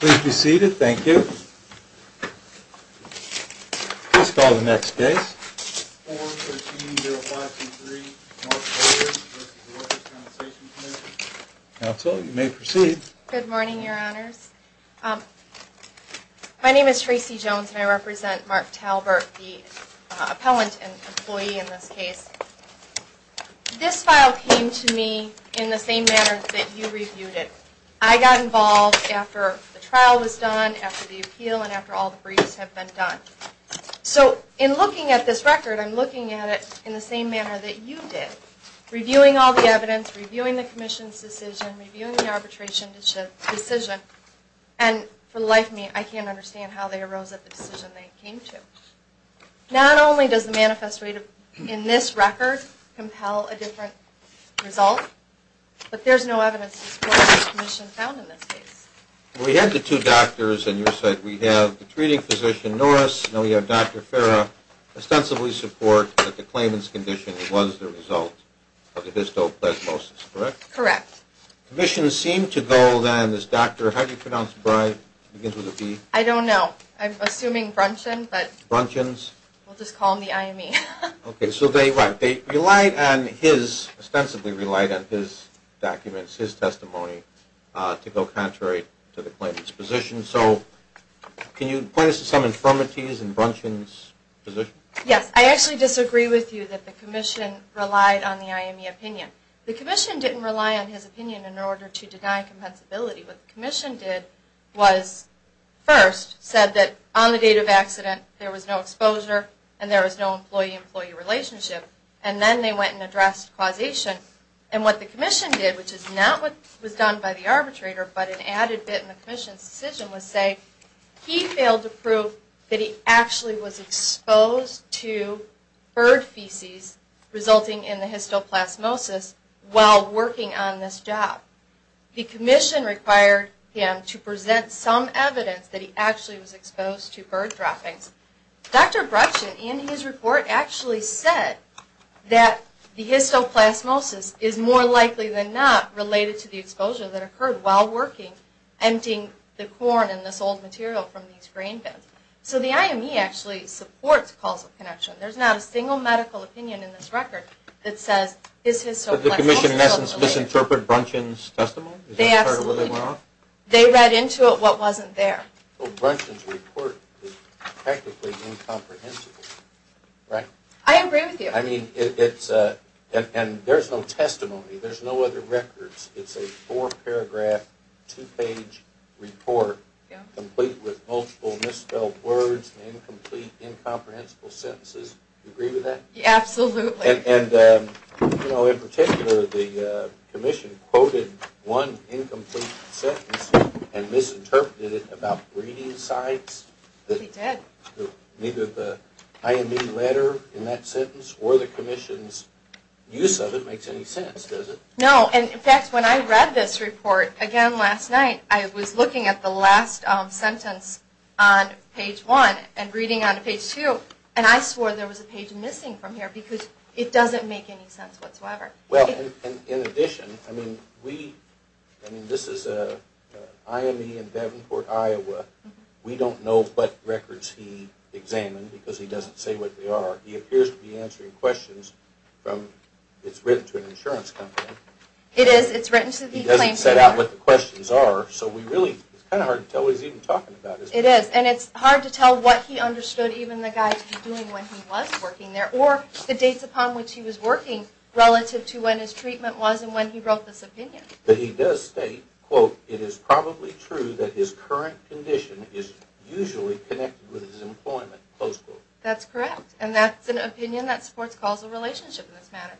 Please be seated. Thank you. Please call the next case. Counsel, you may proceed. Good morning, Your Honors. My name is Tracy Jones and I represent Mark Talbert, the appellant and employee in this case. This file came to me in the same manner that you reviewed it. I got involved after the trial was done, after the appeal, and after all the briefs have been done. So in looking at this record, I'm looking at it in the same manner that you did, reviewing all the evidence, reviewing the Commission's decision, reviewing the arbitration decision. And for the life of me, I can't understand how they arose at the decision they came to. Not only does the manifest rate in this record compel a different result, but there's no evidence to support what the Commission found in this case. We had the two doctors, and you said we have the treating physician, Norris, and now we have Dr. Farah, ostensibly support that the claimant's condition was the result of the histoplasmosis, correct? Correct. The Commission seemed to go, then, this doctor, how do you pronounce the bride, begins with a B? I don't know. I'm assuming Brunchan, but we'll just call him the IME. Okay, so they relied on his, ostensibly relied on his documents, his testimony, to go contrary to the claimant's position. So can you point us to some infirmities in Brunchan's position? Yes. I actually disagree with you that the Commission relied on the IME opinion. The Commission didn't rely on his opinion in order to deny compensability. What the Commission did was, first, said that on the date of accident, there was no exposure and there was no employee-employee relationship. And then they went and addressed causation. And what the Commission did, which is not what was done by the arbitrator, but an added bit in the Commission's decision, was say, he failed to prove that he actually was exposed to bird feces resulting in the histoplasmosis while working on this job. The Commission required him to present some evidence that he actually was exposed to bird droppings. Dr. Brunchan, in his report, actually said that the histoplasmosis is more likely than not related to the exposure that occurred while working, emptying the corn and this old material from these grain bins. So the IME actually supports causal connection. There's not a single medical opinion in this record that says, Does the Commission, in essence, misinterpret Brunchan's testimony? They read into it what wasn't there. Brunchan's report is practically incomprehensible, right? I agree with you. I mean, there's no testimony. There's no other records. It's a four-paragraph, two-page report complete with multiple misspelled words and incomplete, incomprehensible sentences. Do you agree with that? Absolutely. And, you know, in particular, the Commission quoted one incomplete sentence and misinterpreted it about breeding sites. It did. Neither the IME letter in that sentence or the Commission's use of it makes any sense, does it? No. And, in fact, when I read this report again last night, I was looking at the last sentence on page one and reading on page two, and I swore there was a page missing from here because it doesn't make any sense whatsoever. Well, in addition, I mean, we, I mean, this is an IME in Davenport, Iowa. We don't know what records he examined because he doesn't say what they are. He appears to be answering questions from, it's written to an insurance company. It is. It's written to the claims lawyer. He doesn't set out what the questions are, so we really, it's kind of hard to tell what he's even talking about. It is. And it's hard to tell what he understood even the guy to be doing when he was working there, or the dates upon which he was working relative to when his treatment was and when he wrote this opinion. But he does state, quote, it is probably true that his current condition is usually connected with his employment. Close quote. That's correct. And that's an opinion that supports causal relationship in this matter.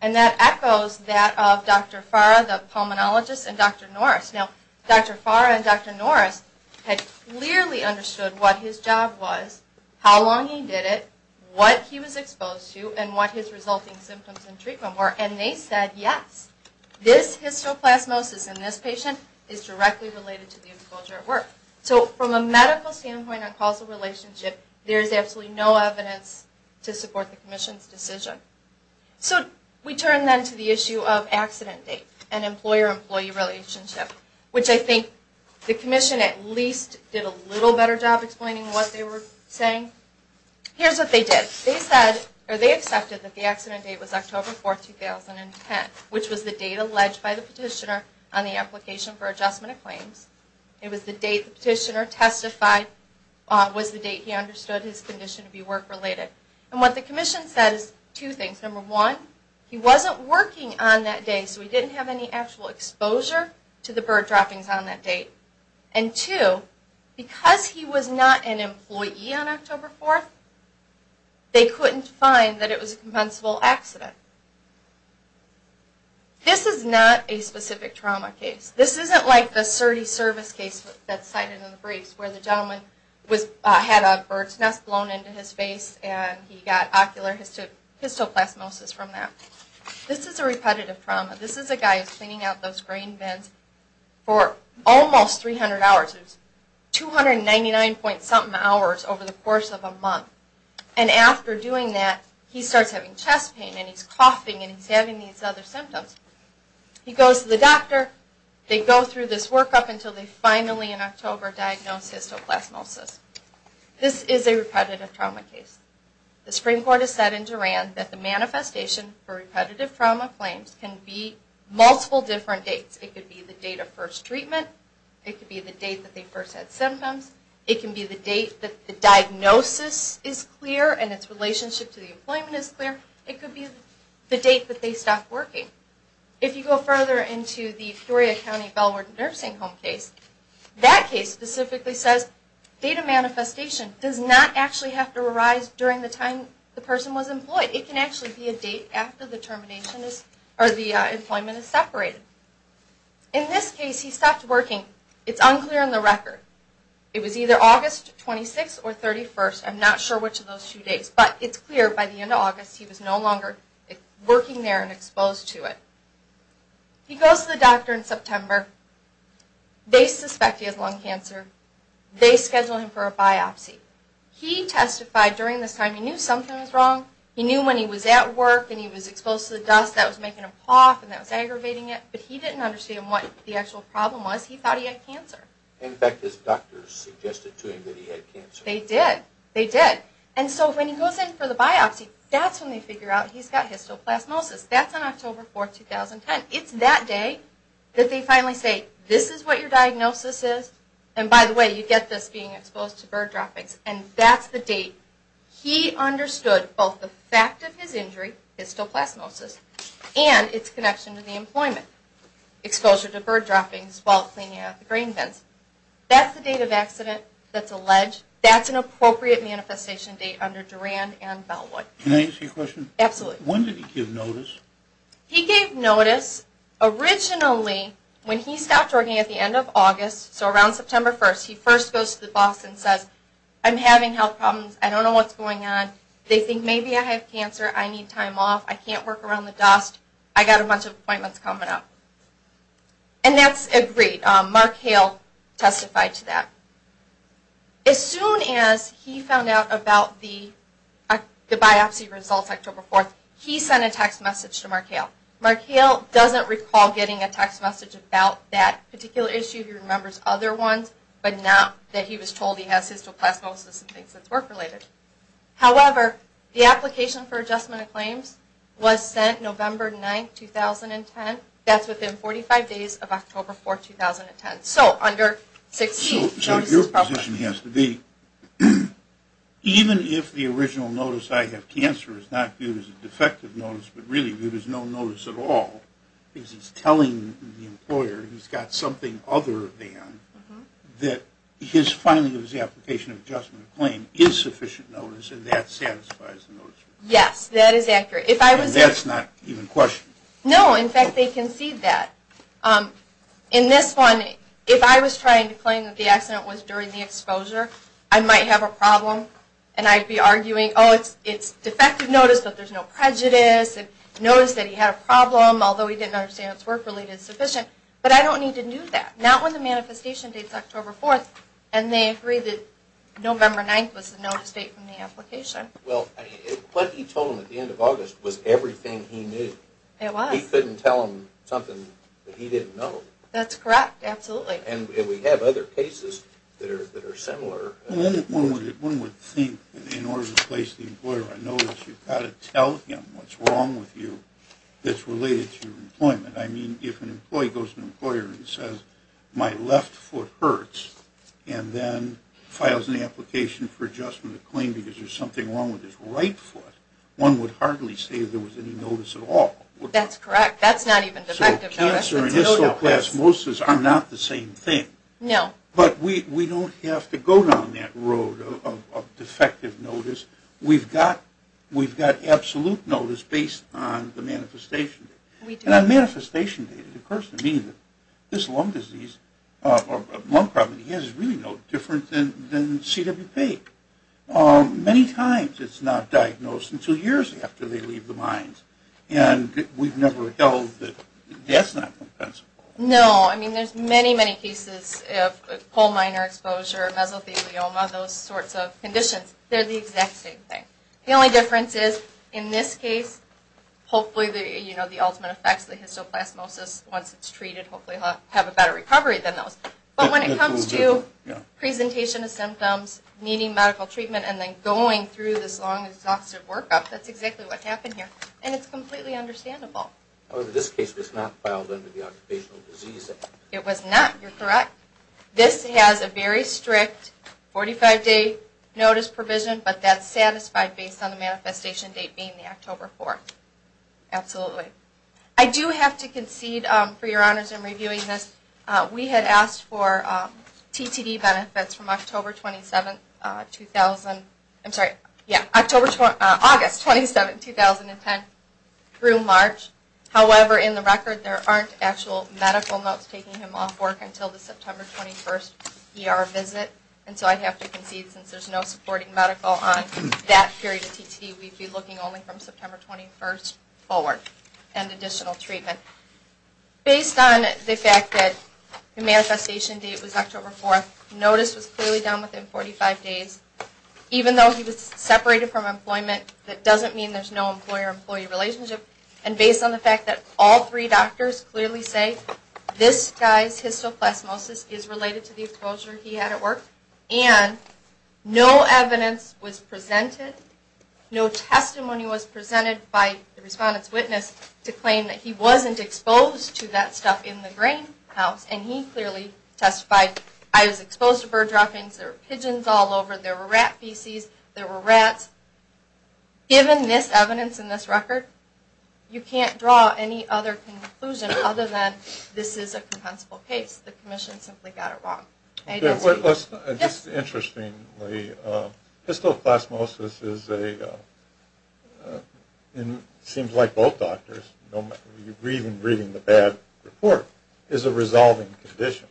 And that echoes that of Dr. Fara, the pulmonologist, and Dr. Norris. Now, Dr. Fara and Dr. Norris had clearly understood what his job was, how long he did it, what he was exposed to, and what his resulting symptoms and treatment were. And they said, yes, this histoplasmosis in this patient is directly related to the exposure at work. So from a medical standpoint on causal relationship, there is absolutely no evidence to support the commission's decision. So we turn then to the issue of accident date and employer-employee relationship, which I think the commission at least did a little better job explaining what they were saying. Here's what they did. They accepted that the accident date was October 4, 2010, which was the date alleged by the petitioner on the application for adjustment of claims. It was the date the petitioner testified was the date he understood his condition to be work-related. And what the commission said is two things. Number one, he wasn't working on that day, so he didn't have any actual exposure to the bird droppings on that date. And two, because he was not an employee on October 4, they couldn't find that it was a compensable accident. This is not a specific trauma case. This isn't like the Surdy service case that's cited in the briefs, where the gentleman had a bird's nest blown into his face and he got ocular histoplasmosis from that. This is a repetitive trauma. This is a guy who's cleaning out those grain bins for almost 300 hours. It was 299-point-something hours over the course of a month. And after doing that, he starts having chest pain and he's coughing and he's having these other symptoms. He goes to the doctor. They go through this workup until they finally, in October, diagnose histoplasmosis. This is a repetitive trauma case. The Supreme Court has said in Duran that the manifestation for repetitive trauma claims can be multiple different dates. It could be the date of first treatment. It could be the date that they first had symptoms. It can be the date that the diagnosis is clear and its relationship to the employment is clear. It could be the date that they stopped working. If you go further into the Peoria County Bellwood Nursing Home case, that case specifically says data manifestation does not actually have to arise during the time the person was employed. It can actually be a date after the employment is separated. In this case, he stopped working. It's unclear on the record. It was either August 26th or 31st. I'm not sure which of those two days. But it's clear by the end of August he was no longer working there and exposed to it. He goes to the doctor in September. They suspect he has lung cancer. They schedule him for a biopsy. He testified during this time he knew something was wrong. He knew when he was at work and he was exposed to the dust that was making him cough and that was aggravating it. But he didn't understand what the actual problem was. He thought he had cancer. In fact, his doctors suggested to him that he had cancer. They did. They did. And so when he goes in for the biopsy, that's when they figure out he's got histoplasmosis. That's on October 4th, 2010. It's that day that they finally say, this is what your diagnosis is. And by the way, you get this being exposed to bird droppings. And that's the date he understood both the fact of his injury, histoplasmosis, and its connection to the employment. Exposure to bird droppings while cleaning out the grain bins. That's the date of accident that's alleged. That's an appropriate manifestation date under Durand and Bellwood. Can I ask you a question? Absolutely. When did he give notice? He gave notice originally when he stopped working at the end of August, so around September 1st. He first goes to the boss and says, I'm having health problems. I don't know what's going on. They think maybe I have cancer. I need time off. I can't work around the dust. I've got a bunch of appointments coming up. And that's agreed. Mark Hale testified to that. As soon as he found out about the biopsy results October 4th, he sent a text message to Mark Hale. Mark Hale doesn't recall getting a text message about that particular issue. He remembers other ones, but not that he was told he has histoplasmosis and things that's work-related. However, the application for adjustment of claims was sent November 9th, 2010. That's within 45 days of October 4th, 2010. So under 16. So your position has to be, even if the original notice, I have cancer, is not viewed as a defective notice, but really viewed as no notice at all, because he's telling the employer he's got something other than, that his filing of his application of adjustment of claim is sufficient notice and that satisfies the notice. Yes, that is accurate. And that's not even questioned. No. In fact, they concede that. In this one, if I was trying to claim that the accident was during the exposure, I might have a problem, and I'd be arguing, oh, it's defective notice, but there's no prejudice, and notice that he had a problem, although he didn't understand it's work-related, it's sufficient. But I don't need to do that. Not when the manifestation date's October 4th, and they agree that November 9th was the notice date from the application. Well, what you told him at the end of August was everything he knew. It was. He couldn't tell him something that he didn't know. That's correct. Absolutely. And we have other cases that are similar. One would think, in order to place the employer on notice, you've got to tell him what's wrong with you that's related to employment. I mean, if an employee goes to an employer and says, my left foot hurts and then files an application for adjustment of claim because there's something wrong with his right foot, one would hardly say there was any notice at all. That's correct. That's not even defective notice. So cancer and histoplasmosis are not the same thing. No. But we don't have to go down that road of defective notice. We've got absolute notice based on the manifestation date. And on manifestation date, it occurs to me that this lung disease or lung problem that he has is really no different than CWP. Many times it's not diagnosed until years after they leave the mines. And we've never held that that's not compensable. No. I mean, there's many, many cases of pulmonary exposure, mesothelioma, those sorts of conditions. They're the exact same thing. The only difference is, in this case, hopefully, you know, the ultimate effect is the histoplasmosis. Once it's treated, hopefully he'll have a better recovery than those. But when it comes to presentation of symptoms, needing medical treatment, and then going through this long, exhaustive workup, that's exactly what happened here. And it's completely understandable. Well, in this case, it was not filed under the Occupational Disease Act. It was not. You're correct. This has a very strict 45-day notice provision, but that's satisfied based on the manifestation date being the October 4th. Absolutely. I do have to concede, for your honors in reviewing this, we had asked for TTD benefits from October 27th, 2010 through March. However, in the record, there aren't actual medical notes taking him off work until the September 21st ER visit. And so I have to concede, since there's no supporting medical on that period of TTD, we'd be looking only from September 21st forward and additional treatment. Based on the fact that the manifestation date was October 4th, notice was clearly done within 45 days. Even though he was separated from employment, that doesn't mean there's no employer-employee relationship. And based on the fact that all three doctors clearly say, this guy's histoplasmosis is related to the exposure he had at work, and no evidence was presented, no testimony was presented by the respondent's witness to claim that he wasn't exposed to that stuff in the grain house. And he clearly testified, I was exposed to bird droppings, there were pigeons all over, there were rat feces, there were rats. Given this evidence in this record, you can't draw any other conclusion other than this is a compensable case. The commission simply got it wrong. This is interesting. Histoplasmosis is a, seems like both doctors, even reading the bad report, is a resolving condition.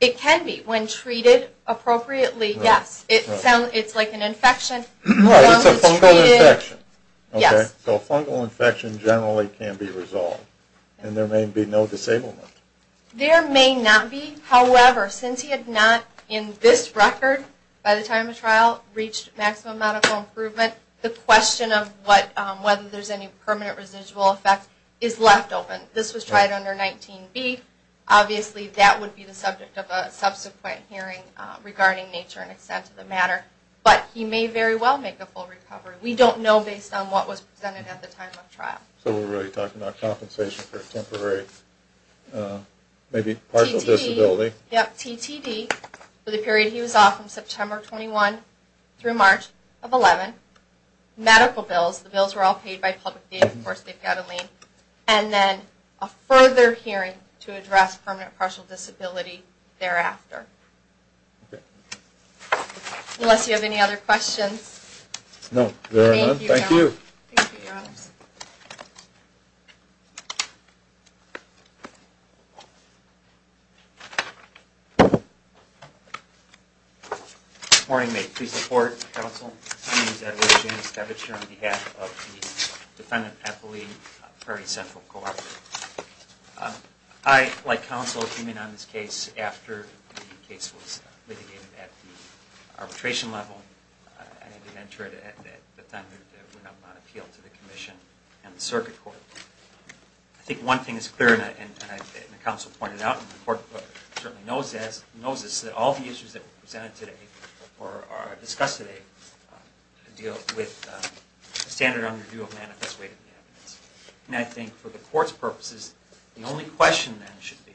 It can be when treated appropriately, yes. It's like an infection. It's a fungal infection. Yes. So a fungal infection generally can be resolved. And there may be no disablement. There may not be. However, since he had not, in this record, by the time of trial, reached maximum medical improvement, the question of whether there's any permanent residual effect is left open. This was tried under 19B. Obviously, that would be the subject of a subsequent hearing regarding nature and extent of the matter. But he may very well make a full recovery. We don't know based on what was presented at the time of trial. So we're really talking about compensation for temporary, maybe partial disability. TTD. Yes, TTD for the period he was off from September 21 through March of 11. Medical bills. The bills were all paid by public data. Of course, they've got a lien. And then a further hearing to address permanent partial disability thereafter. Okay. Unless you have any other questions. No, there are none. Thank you. Thank you. Thank you, Your Honors. Good morning. May it please the Court, Counsel. My name is Edward James Kavich. I'm here on behalf of the Defendant Ethelene Perry Central Collective. I, like Counsel, came in on this case after the case was litigated at the arbitration level. I didn't enter it at the time that it went up on appeal to the Commission and the Circuit Court. I think one thing is clear, and Counsel pointed out, and the Court certainly knows this, that all the issues that were presented today, or are discussed today, deal with the standard underdue of manifest weight of the evidence. And I think for the Court's purposes, the only question then should be,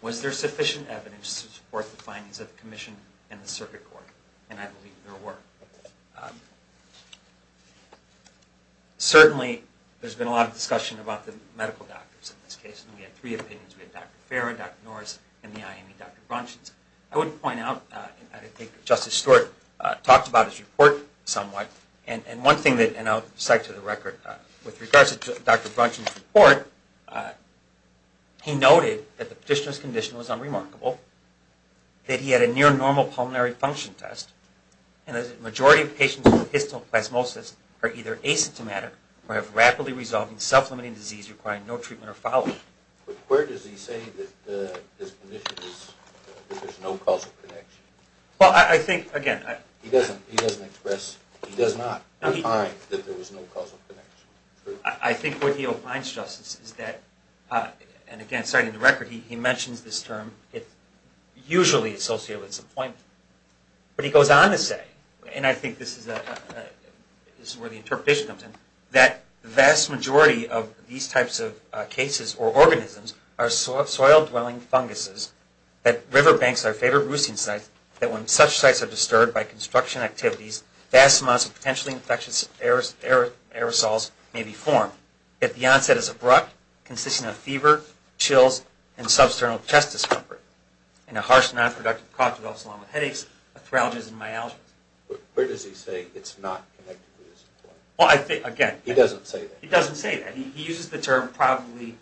was there sufficient evidence to support the findings of the Commission and the Circuit Court? And I believe there were. Certainly, there's been a lot of discussion about the medical doctors in this case, and we had three opinions. We had Dr. Farah, Dr. Norris, and the IME Dr. Braunschweiz. I would point out, I think Justice Stewart talked about his report somewhat, and one thing that, and I'll cite to the record, with regards to Dr. Braunschweiz's report, he noted that the petitioner's condition was unremarkable, that he had a near-normal pulmonary function test, and that a majority of patients with histoplasmosis are either asymptomatic or have rapidly resolving, self-limiting disease requiring no treatment or follow-up. But where does he say that his condition is, that there's no causal connection? Well, I think, again, I... He doesn't express, he does not define that there was no causal connection. I think what he opines, Justice, is that, and again, citing the record, he mentions this term, it's usually associated with disappointment. But he goes on to say, and I think this is where the interpretation comes in, that the vast majority of these types of cases or organisms are soil-dwelling funguses, that riverbanks are favorite roosting sites, that when such sites are disturbed by construction activities, vast amounts of potentially infectious aerosols may be formed. Yet the onset is abrupt, consisting of fever, chills, and substernal chest discomfort, and a harsh, non-productive cough that develops along with headaches, arthralgias, and myalgias. But where does he say it's not connected with disappointment? Well, I think, again... He doesn't say that. He doesn't say that. He uses the term, probably...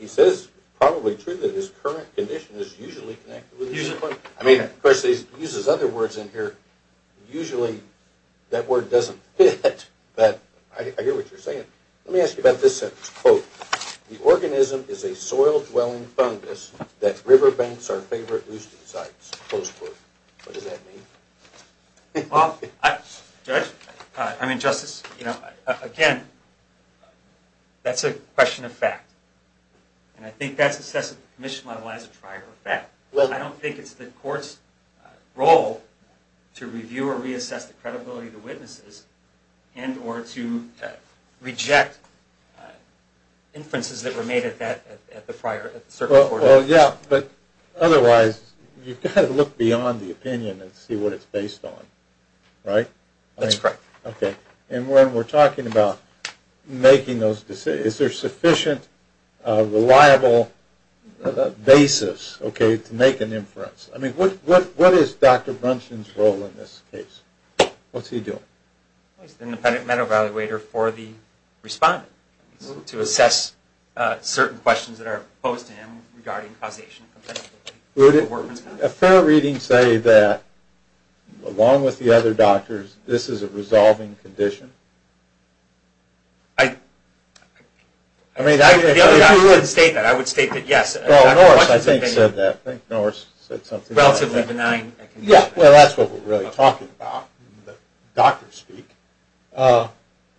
He says, probably true, that his current condition is usually connected with disappointment. I mean, of course, he uses other words in here. Usually that word doesn't fit, but I hear what you're saying. Let me ask you about this sentence. Quote, the organism is a soil-dwelling fungus that riverbanks are favorite roosting sites. Close quote. What does that mean? Well, Judge, I mean, Justice, again, that's a question of fact. And I think that's assessed at the commission level as a prior effect. I don't think it's the court's role to review or reassess the credibility of the witnesses and or to reject inferences that were made at the circuit court. Well, yeah, but otherwise you've got to look beyond the opinion and see what it's based on, right? That's correct. Okay. And when we're talking about making those decisions, is there sufficient reliable basis, okay, to make an inference? I mean, what is Dr. Brunson's role in this case? What's he doing? He's the independent med evaluator for the respondent to assess certain questions that are posed to him regarding causation. Would a fair reading say that, along with the other doctors, this is a resolving condition? I mean, if you would state that, I would state that yes. Well, Norris, I think, said that. I think Norris said something like that. Relatively benign. Yeah, well, that's what we're really talking about, doctor speak. But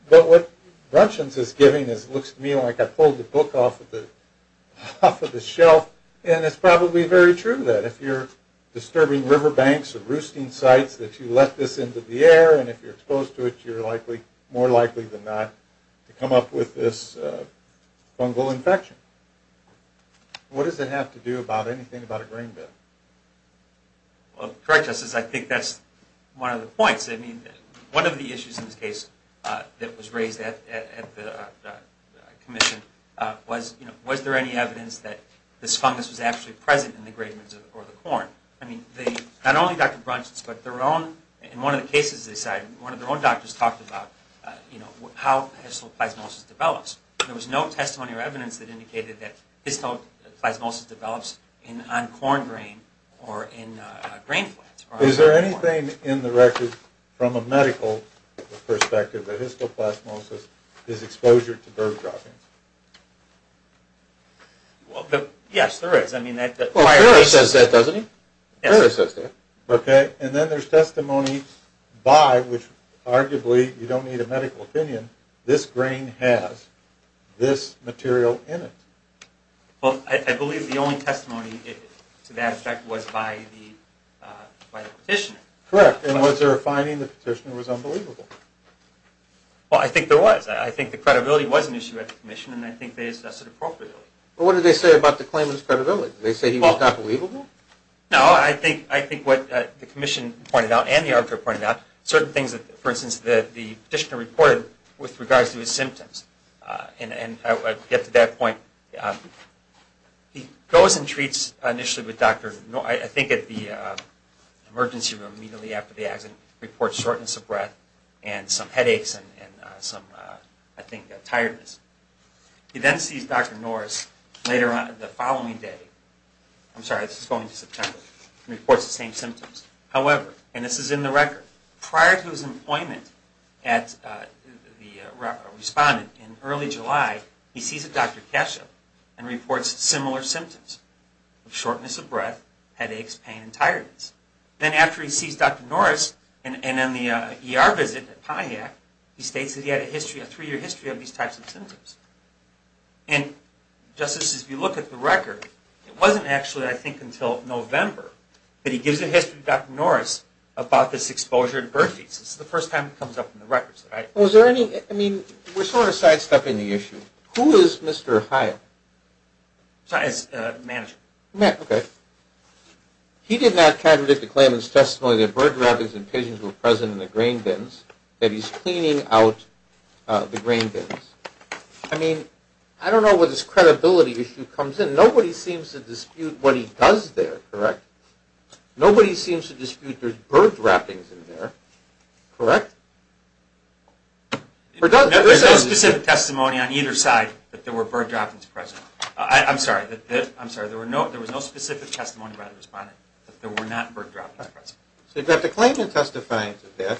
what Brunson's is giving looks to me like I pulled the book off of the shelf, and it's probably very true that if you're disturbing riverbanks or roosting sites that you let this into the air, and if you're exposed to it, you're more likely than not to come up with this fungal infection. What does it have to do with anything about a grain bed? Well, correct us as I think that's one of the points. I mean, one of the issues in this case that was raised at the commission was, you know, was there any evidence that this fungus was actually present in the grain beds or the corn? I mean, not only Dr. Brunson's, but their own, in one of the cases they cited, one of their own doctors talked about, you know, how histoplasmosis develops. There was no testimony or evidence that indicated that histoplasmosis develops on corn grain or in grain plants. Is there anything in the record from a medical perspective that histoplasmosis is exposure to bird droppings? Well, yes, there is. I mean, the prior case says that, doesn't he? Yes, it says that. Okay. And then there's testimony by, which arguably you don't need a medical opinion, this grain has this material in it. Well, I believe the only testimony to that effect was by the petitioner. Correct. And was there a finding the petitioner was unbelievable? Well, I think there was. I think the credibility was an issue at the commission, and I think they assessed it appropriately. Well, what did they say about the claimant's credibility? Did they say he was not believable? No, I think what the commission pointed out and the arbiter pointed out, certain things that, for instance, that the petitioner reported with regards to his symptoms, and I'll get to that point. He goes and treats initially with Dr. Norris, I think at the emergency room immediately after the accident, reports shortness of breath and some headaches and some, I think, tiredness. He then sees Dr. Norris later on the following day, I'm sorry, this is going to September, and reports the same symptoms. However, and this is in the record, prior to his employment as the respondent in early July, he sees a Dr. Kesho and reports similar symptoms of shortness of breath, headaches, pain, and tiredness. Then after he sees Dr. Norris and on the ER visit at Pontiac, he states that he had a history, a three-year history of these types of symptoms. And just as you look at the record, it wasn't actually, I think, until November that he gives a history to Dr. Norris about this exposure to bird feces. This is the first time it comes up in the records, right? Well, is there any, I mean, we're sort of sidestepping the issue. Who is Mr. Hyatt? Sorry, it's Manager. Okay. He did not contradict the claimant's testimony that bird droppings and pigeons were present in the grain bins, that he's cleaning out the grain bins. I mean, I don't know where this credibility issue comes in. And nobody seems to dispute what he does there, correct? Nobody seems to dispute there's bird droppings in there, correct? There's no specific testimony on either side that there were bird droppings present. I'm sorry, there was no specific testimony by the respondent that there were not bird droppings present. So you've got the claimant testifying to that.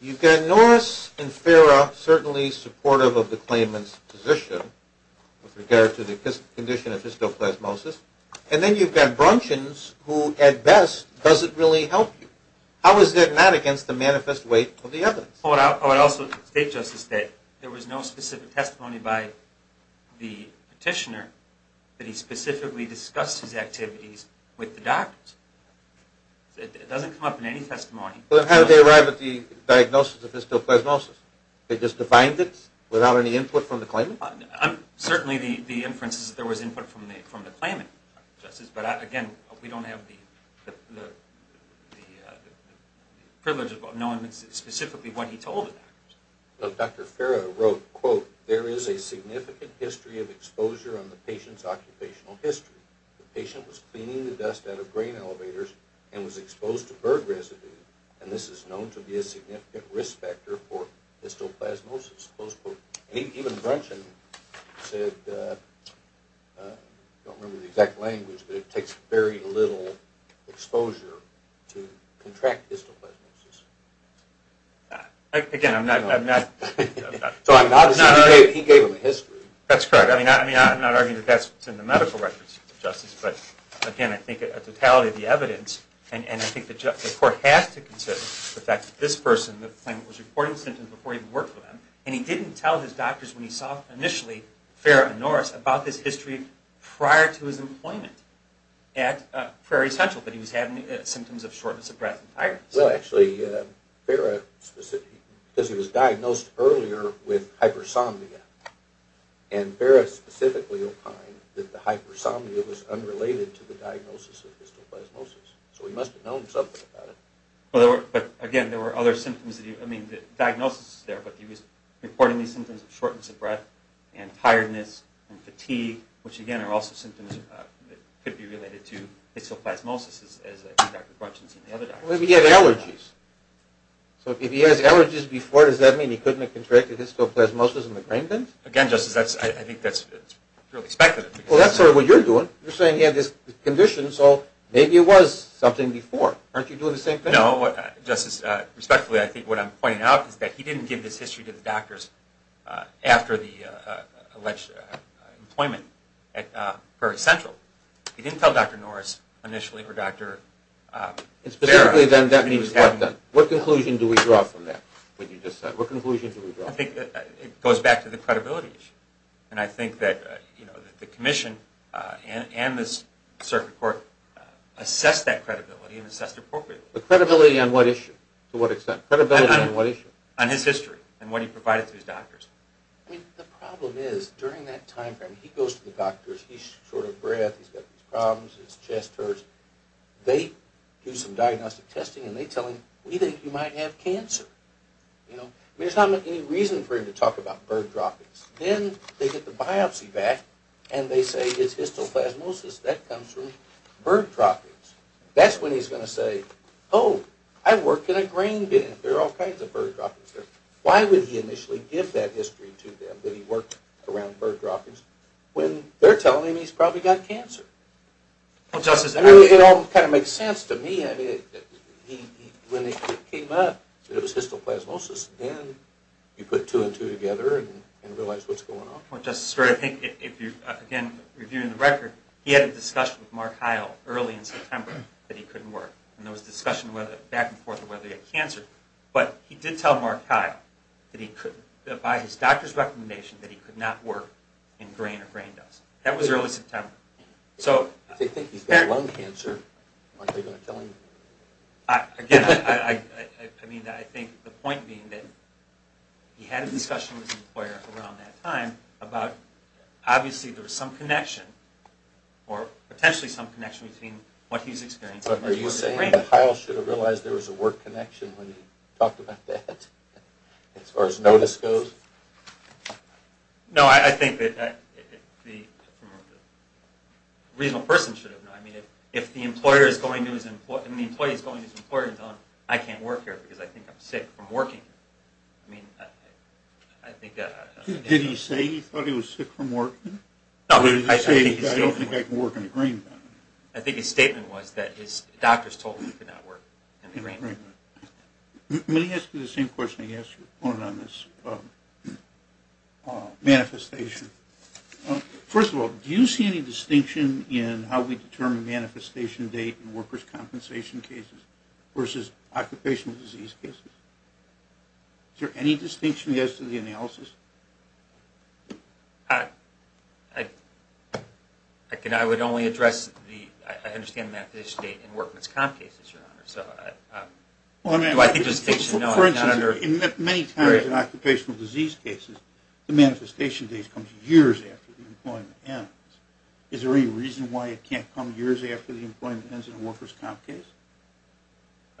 You've got Norris and Farah certainly supportive of the claimant's position with regard to the condition of histoplasmosis. And then you've got Brunchins who, at best, doesn't really help you. How is that not against the manifest weight of the evidence? I would also state, Justice, that there was no specific testimony by the petitioner that he specifically discussed his activities with the doctors. It doesn't come up in any testimony. How did they arrive at the diagnosis of histoplasmosis? They just defined it without any input from the claimant? Certainly the inference is that there was input from the claimant, Justice. But, again, we don't have the privilege of knowing specifically what he told the doctors. Dr. Farah wrote, quote, There is a significant history of exposure on the patient's occupational history. The patient was cleaning the dust out of grain elevators and was exposed to bird residue, and this is known to be a significant risk factor for histoplasmosis, close quote. And even Brunchin said, I don't remember the exact language, but it takes very little exposure to contract histoplasmosis. Again, I'm not... He gave them a history. That's correct. I'm not arguing that that's in the medical records, Justice. But, again, I think a totality of the evidence, and I think the court has to consider the fact that this person, the claimant was reporting symptoms before he even worked with him, and he didn't tell his doctors when he saw, initially, Farah and Norris, about this history prior to his employment at Prairie Central that he was having symptoms of shortness of breath and tiredness. Well, actually, Farah specifically, because he was diagnosed earlier with hypersomnia, and Farah specifically opined that the hypersomnia was unrelated to the diagnosis of histoplasmosis. So he must have known something about it. But, again, there were other symptoms. I mean, the diagnosis is there, but he was reporting symptoms of shortness of breath and tiredness and fatigue, which, again, are also symptoms that could be related to histoplasmosis, as I think Dr. Brunchin said in the other diagnosis. Well, if he had allergies. So if he has allergies before, does that mean he couldn't have contracted histoplasmosis in the claimant? Again, Justice, I think that's purely speculative. Well, that's sort of what you're doing. You're saying he had this condition, so maybe it was something before. Aren't you doing the same thing? No, Justice. Respectfully, I think what I'm pointing out is that he didn't give this history to the doctors after the alleged employment at Prairie Central. He didn't tell Dr. Norris initially or Dr. Farah. Specifically, then, that means what then? What conclusion do we draw from that, what you just said? What conclusion do we draw? I think it goes back to the credibility issue. And I think that the commission and this circuit court assessed that credibility and assessed it appropriately. The credibility on what issue? To what extent? Credibility on what issue? On his history and what he provided to his doctors. I mean, the problem is, during that time frame, he goes to the doctors. He's short of breath. He's got these problems. His chest hurts. They do some diagnostic testing, and they tell him, we think you might have cancer. There's not any reason for him to talk about bird droppings. Then they get the biopsy back, and they say it's histoplasmosis. That comes from bird droppings. That's when he's going to say, oh, I work in a grain bin. There are all kinds of bird droppings there. Why would he initially give that history to them that he worked around bird droppings when they're telling him he's probably got cancer? It all kind of makes sense to me. When it came up that it was histoplasmosis, then you put two and two together and realize what's going on. Just to start, again, reviewing the record, he had a discussion with Mark Heil early in September that he couldn't work. There was a discussion back and forth about whether he had cancer. But he did tell Mark Heil, by his doctor's recommendation, that he could not work in grain or grain dust. That was early September. If they think he's got lung cancer, aren't they going to tell him? Again, I think the point being that he had a discussion with his employer around that time about, obviously, there was some connection, or potentially some connection between what he's experiencing and working in grain. Are you saying that Heil should have realized there was a work connection when he talked about that, as far as notice goes? No, I think that a reasonable person should have known. If the employee is going to his employer and telling him, I can't work here because I think I'm sick from working here. Did he say he thought he was sick from working? Or did he say, I don't think I can work in the grain? I think his statement was that his doctors told him he could not work in the grain. Let me ask you the same question I asked your opponent on this manifestation. First of all, do you see any distinction in how we determine manifestation date in workers' compensation cases versus occupational disease cases? Is there any distinction as to the analysis? I would only address the, I understand the manifestation date in workman's comp cases, Your Honor, so do I think there's a distinction? For instance, many times in occupational disease cases, the manifestation date comes years after the employment ends. Is there any reason why it can't come years after the employment ends in a workers' comp case?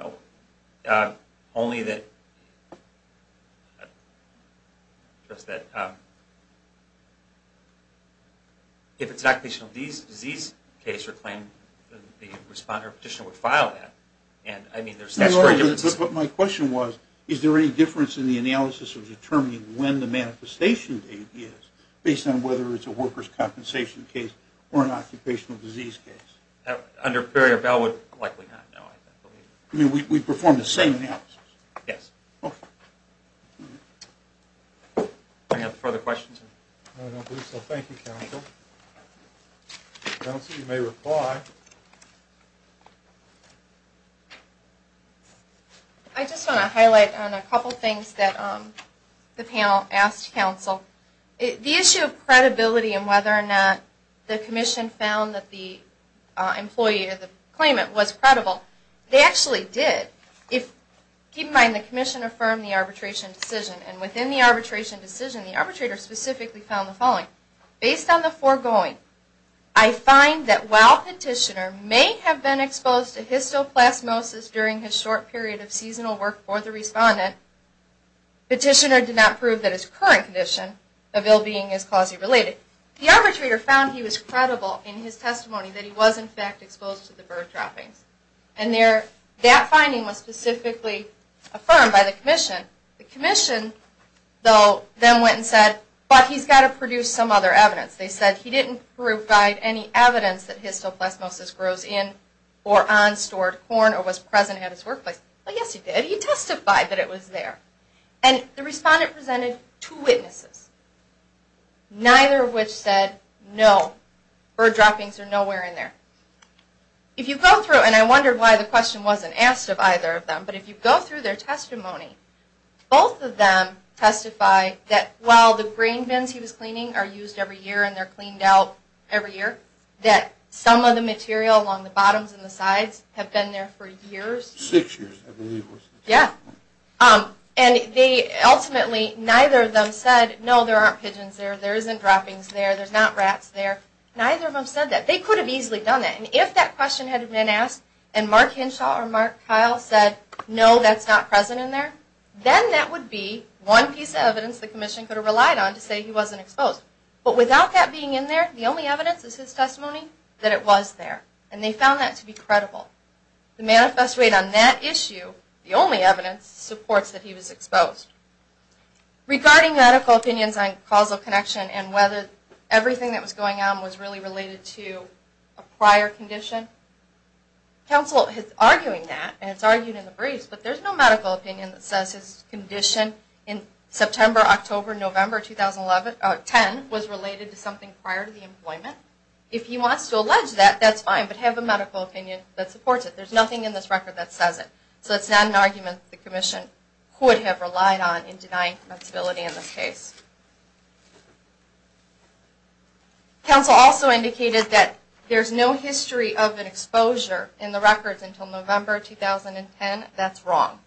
No, only that if it's an occupational disease case or claim, the respondent or petitioner would file that. But my question was, is there any difference in the analysis of determining when the manifestation date is based on whether it's a workers' compensation case or an occupational disease case? Under barrier bail, likely not, no. You mean we perform the same analysis? Yes. Okay. I don't believe so. Thank you, counsel. Counsel, you may reply. I just want to highlight on a couple things that the panel asked counsel. The issue of credibility and whether or not the commission found that the employee or the claimant was credible, they actually did. Keep in mind, the commission affirmed the arbitration decision, and within the arbitration decision, the arbitrator specifically found the following. Based on the foregoing, I find that while petitioner may have been exposed to histoplasmosis during his short period of seasonal work for the respondent, petitioner did not prove that his current condition of ill-being is clause-related. The arbitrator found he was credible in his testimony that he was, in fact, exposed to the bird droppings. And that finding was specifically affirmed by the commission. The commission, though, then went and said, but he's got to produce some other evidence. They said he didn't provide any evidence that histoplasmosis grows in or on stored corn or was present at his workplace. Well, yes, he did. He testified that it was there. And the respondent presented two witnesses, neither of which said no, bird droppings are nowhere in there. If you go through, and I wonder why the question wasn't asked of either of them, but if you go through their testimony, both of them testify that while the grain bins he was cleaning are used every year and they're cleaned out every year, that some of the material along the bottoms and the sides have been there for years. Six years, I believe it was. Yeah. And they ultimately, neither of them said, no, there aren't pigeons there, there isn't droppings there, there's not rats there. Neither of them said that. They could have easily done that. And if that question had been asked and Mark Henshaw or Mark Kyle said, no, that's not present in there, then that would be one piece of evidence the commission could have relied on to say he wasn't exposed. But without that being in there, the only evidence is his testimony that it was there. And they found that to be credible. The manifest rate on that issue, the only evidence, supports that he was exposed. Regarding medical opinions on causal connection and whether everything that was going on was really related to a prior condition, counsel is arguing that, and it's argued in the briefs, but there's no medical opinion that says his condition in September, October, November 2010 was related to something prior to the employment. If he wants to allege that, that's fine, but have a medical opinion that supports it. There's nothing in this record that says it. So it's not an argument the commission could have relied on in denying commensability in this case. Counsel also indicated that there's no history of an exposure in the records until November 2010. That's wrong.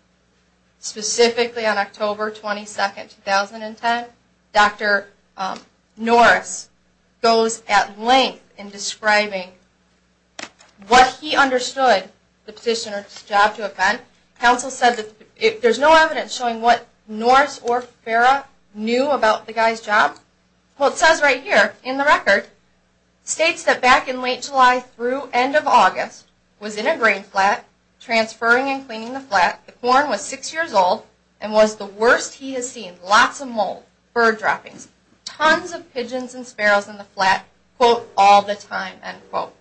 Specifically on October 22, 2010, Dr. Norris goes at length in describing what he understood the position or job to have been. Counsel said that there's no evidence showing what Norris or Farrah knew about the guy's job. Well, it says right here in the record, states that back in late July through end of August, was in a grain flat, transferring and cleaning the flat, the corn was six years old, and was the worst he has seen, lots of mold, bird droppings, tons of pigeons and sparrows in the flat, quote, all the time, end quote.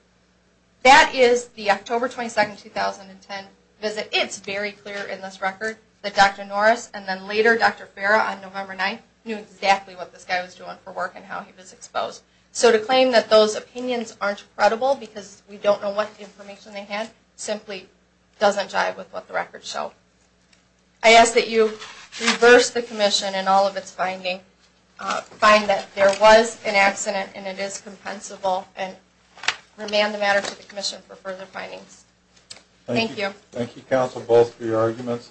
That is the October 22, 2010 visit. It's very clear in this record that Dr. Norris and then later Dr. Farrah on November 9th knew exactly what this guy was doing for work and how he was exposed. So to claim that those opinions aren't credible because we don't know what information they had simply doesn't jive with what the records show. I ask that you reverse the commission in all of its findings, and find that there was an accident and it is compensable, and remand the matter to the commission for further findings. Thank you. Thank you, counsel, both for your arguments.